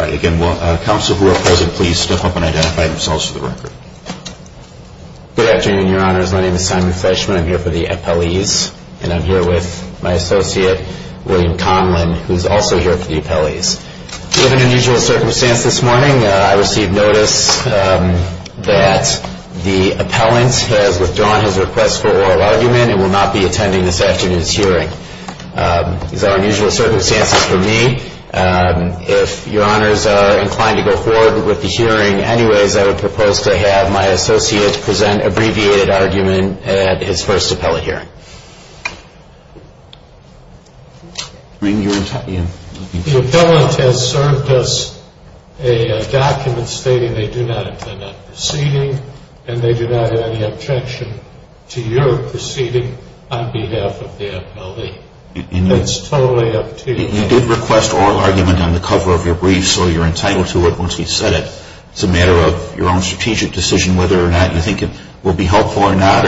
Again, will counsel who are present please step up and identify themselves for the record. Good afternoon, your honors. My name is Simon Fleschman. I'm here for the appellees, and I'm here with my associate, William Conlon, who's also here for the appellees. Given unusual circumstances this morning, I received notice that the appellant has withdrawn his request for oral argument and will not be attending this afternoon's hearing. These are unusual circumstances for me. If your honors are inclined to go forward with the hearing anyways, I would propose to have my associate present abbreviated argument at his first appellate hearing. The appellant has served us a document stating they do not intend on proceeding, and they do not have any objection to your proceeding on behalf of the appellee. It's totally up to you. You did request oral argument on the cover of your brief, so you're entitled to it once we've said it. It's a matter of your own strategic decision whether or not you think it will be helpful or not.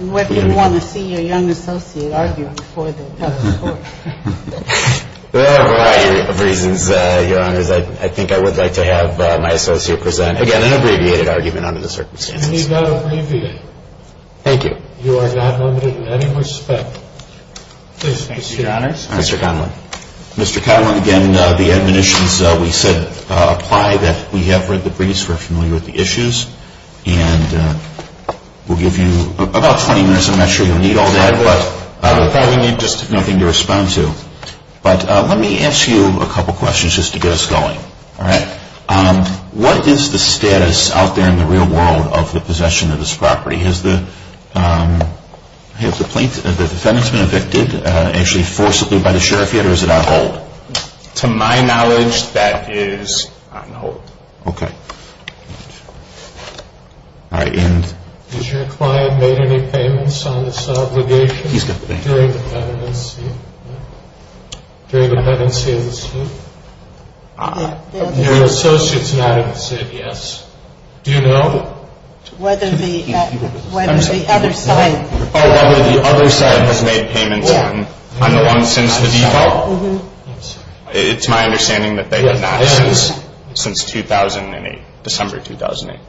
And whether you want to see your young associate argue before the appellate court. There are a variety of reasons, your honors. I think I would like to have my associate present, again, an abbreviated argument under the circumstances. You need not abbreviate. Thank you. You are not limited in any respect. Thank you, your honors. Mr. Conlon. Mr. Conlon, again, the admonitions we said apply, that we have read the briefs, we're familiar with the issues, and we'll give you about 20 minutes. I'm not sure you'll need all that, but I would probably need just nothing to respond to. But let me ask you a couple questions just to get us going. All right. What is the status out there in the real world of the possession of this property? Has the defendant's been evicted, actually forcibly by the sheriff yet, or is it on hold? To my knowledge, that is on hold. Okay. All right. Has your client made any payments on this obligation? He's got the bank. During the pendency of the suit? Your associate's not even said yes. Do you know? Whether the other side has made payments on the loan since the default? It's my understanding that they have not since 2008, December 2008.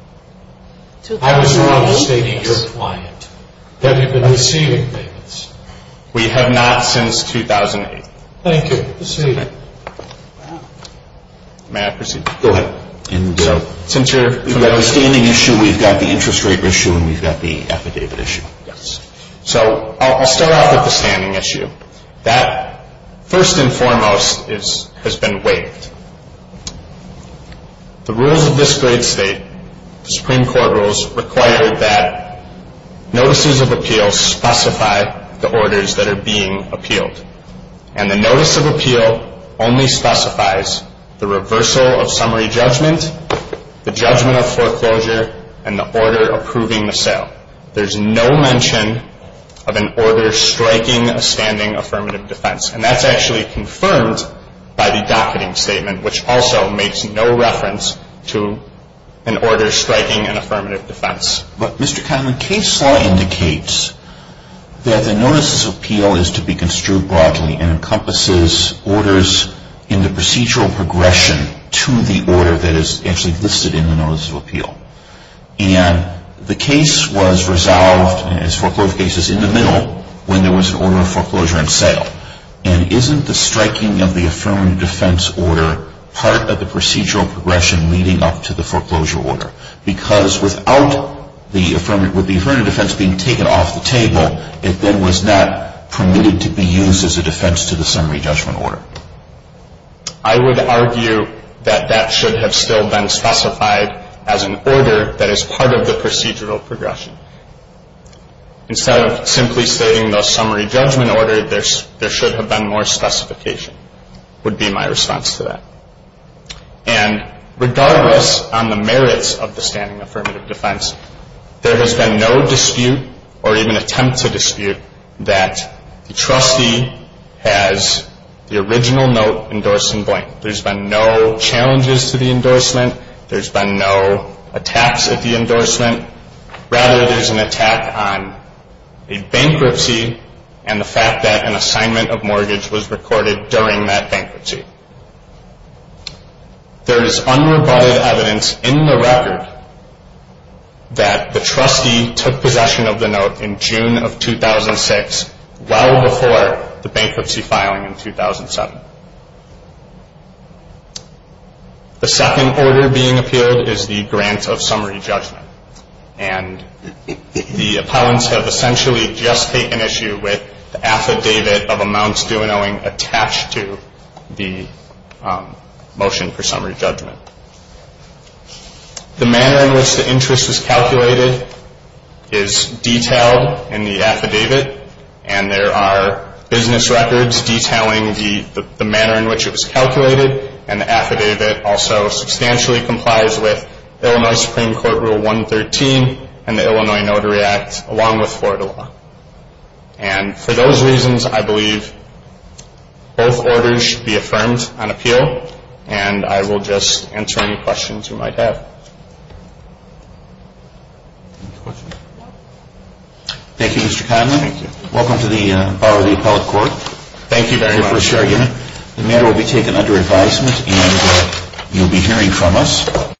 I was wrong in stating your client. Have you been receiving payments? We have not since 2008. Thank you. Proceed. May I proceed? Go ahead. We've got the standing issue, we've got the interest rate issue, and we've got the affidavit issue. So I'll start off with the standing issue. That, first and foremost, has been waived. The rules of this great state, the Supreme Court rules, require that notices of appeals specify the orders that are being appealed. And the notice of appeal only specifies the reversal of summary judgment, the judgment of foreclosure, and the order approving the sale. There's no mention of an order striking a standing affirmative defense. And that's actually confirmed by the docketing statement, which also makes no reference to an order striking an affirmative defense. But, Mr. Conlon, case law indicates that the notices of appeal is to be construed broadly and encompasses orders in the procedural progression to the order that is actually listed in the notice of appeal. And the case was resolved as foreclosure cases in the middle when there was an order of foreclosure and sale. And isn't the striking of the affirmative defense order part of the procedural progression leading up to the foreclosure order? Because without the affirmative defense being taken off the table, it then was not permitted to be used as a defense to the summary judgment order. I would argue that that should have still been specified as an order that is part of the procedural progression. Instead of simply stating the summary judgment order, there should have been more specification, would be my response to that. And regardless on the merits of the standing affirmative defense, there has been no dispute or even attempt to dispute that the trustee has the original note endorsed in blank. There's been no challenges to the endorsement. There's been no attacks at the endorsement. Rather, there's an attack on a bankruptcy and the fact that an assignment of mortgage was recorded during that bankruptcy. There is unrebutted evidence in the record that the trustee took possession of the note in June of 2006, well before the bankruptcy filing in 2007. The second order being appealed is the grant of summary judgment. And the appellants have essentially just taken issue with the affidavit of amounts due and owing attached to the motion for summary judgment. The manner in which the interest is calculated is detailed in the affidavit and there are business records detailing the manner in which it was calculated and the affidavit also substantially complies with Illinois Supreme Court Rule 113 and the Illinois Notary Act along with Florida law. And for those reasons, I believe both orders should be affirmed on appeal and I will just answer any questions you might have. Any questions? Thank you, Mr. Conley. Thank you. Welcome to the Bar of the Appellate Court. Thank you very much. The matter will be taken under advisement and you'll be hearing from us.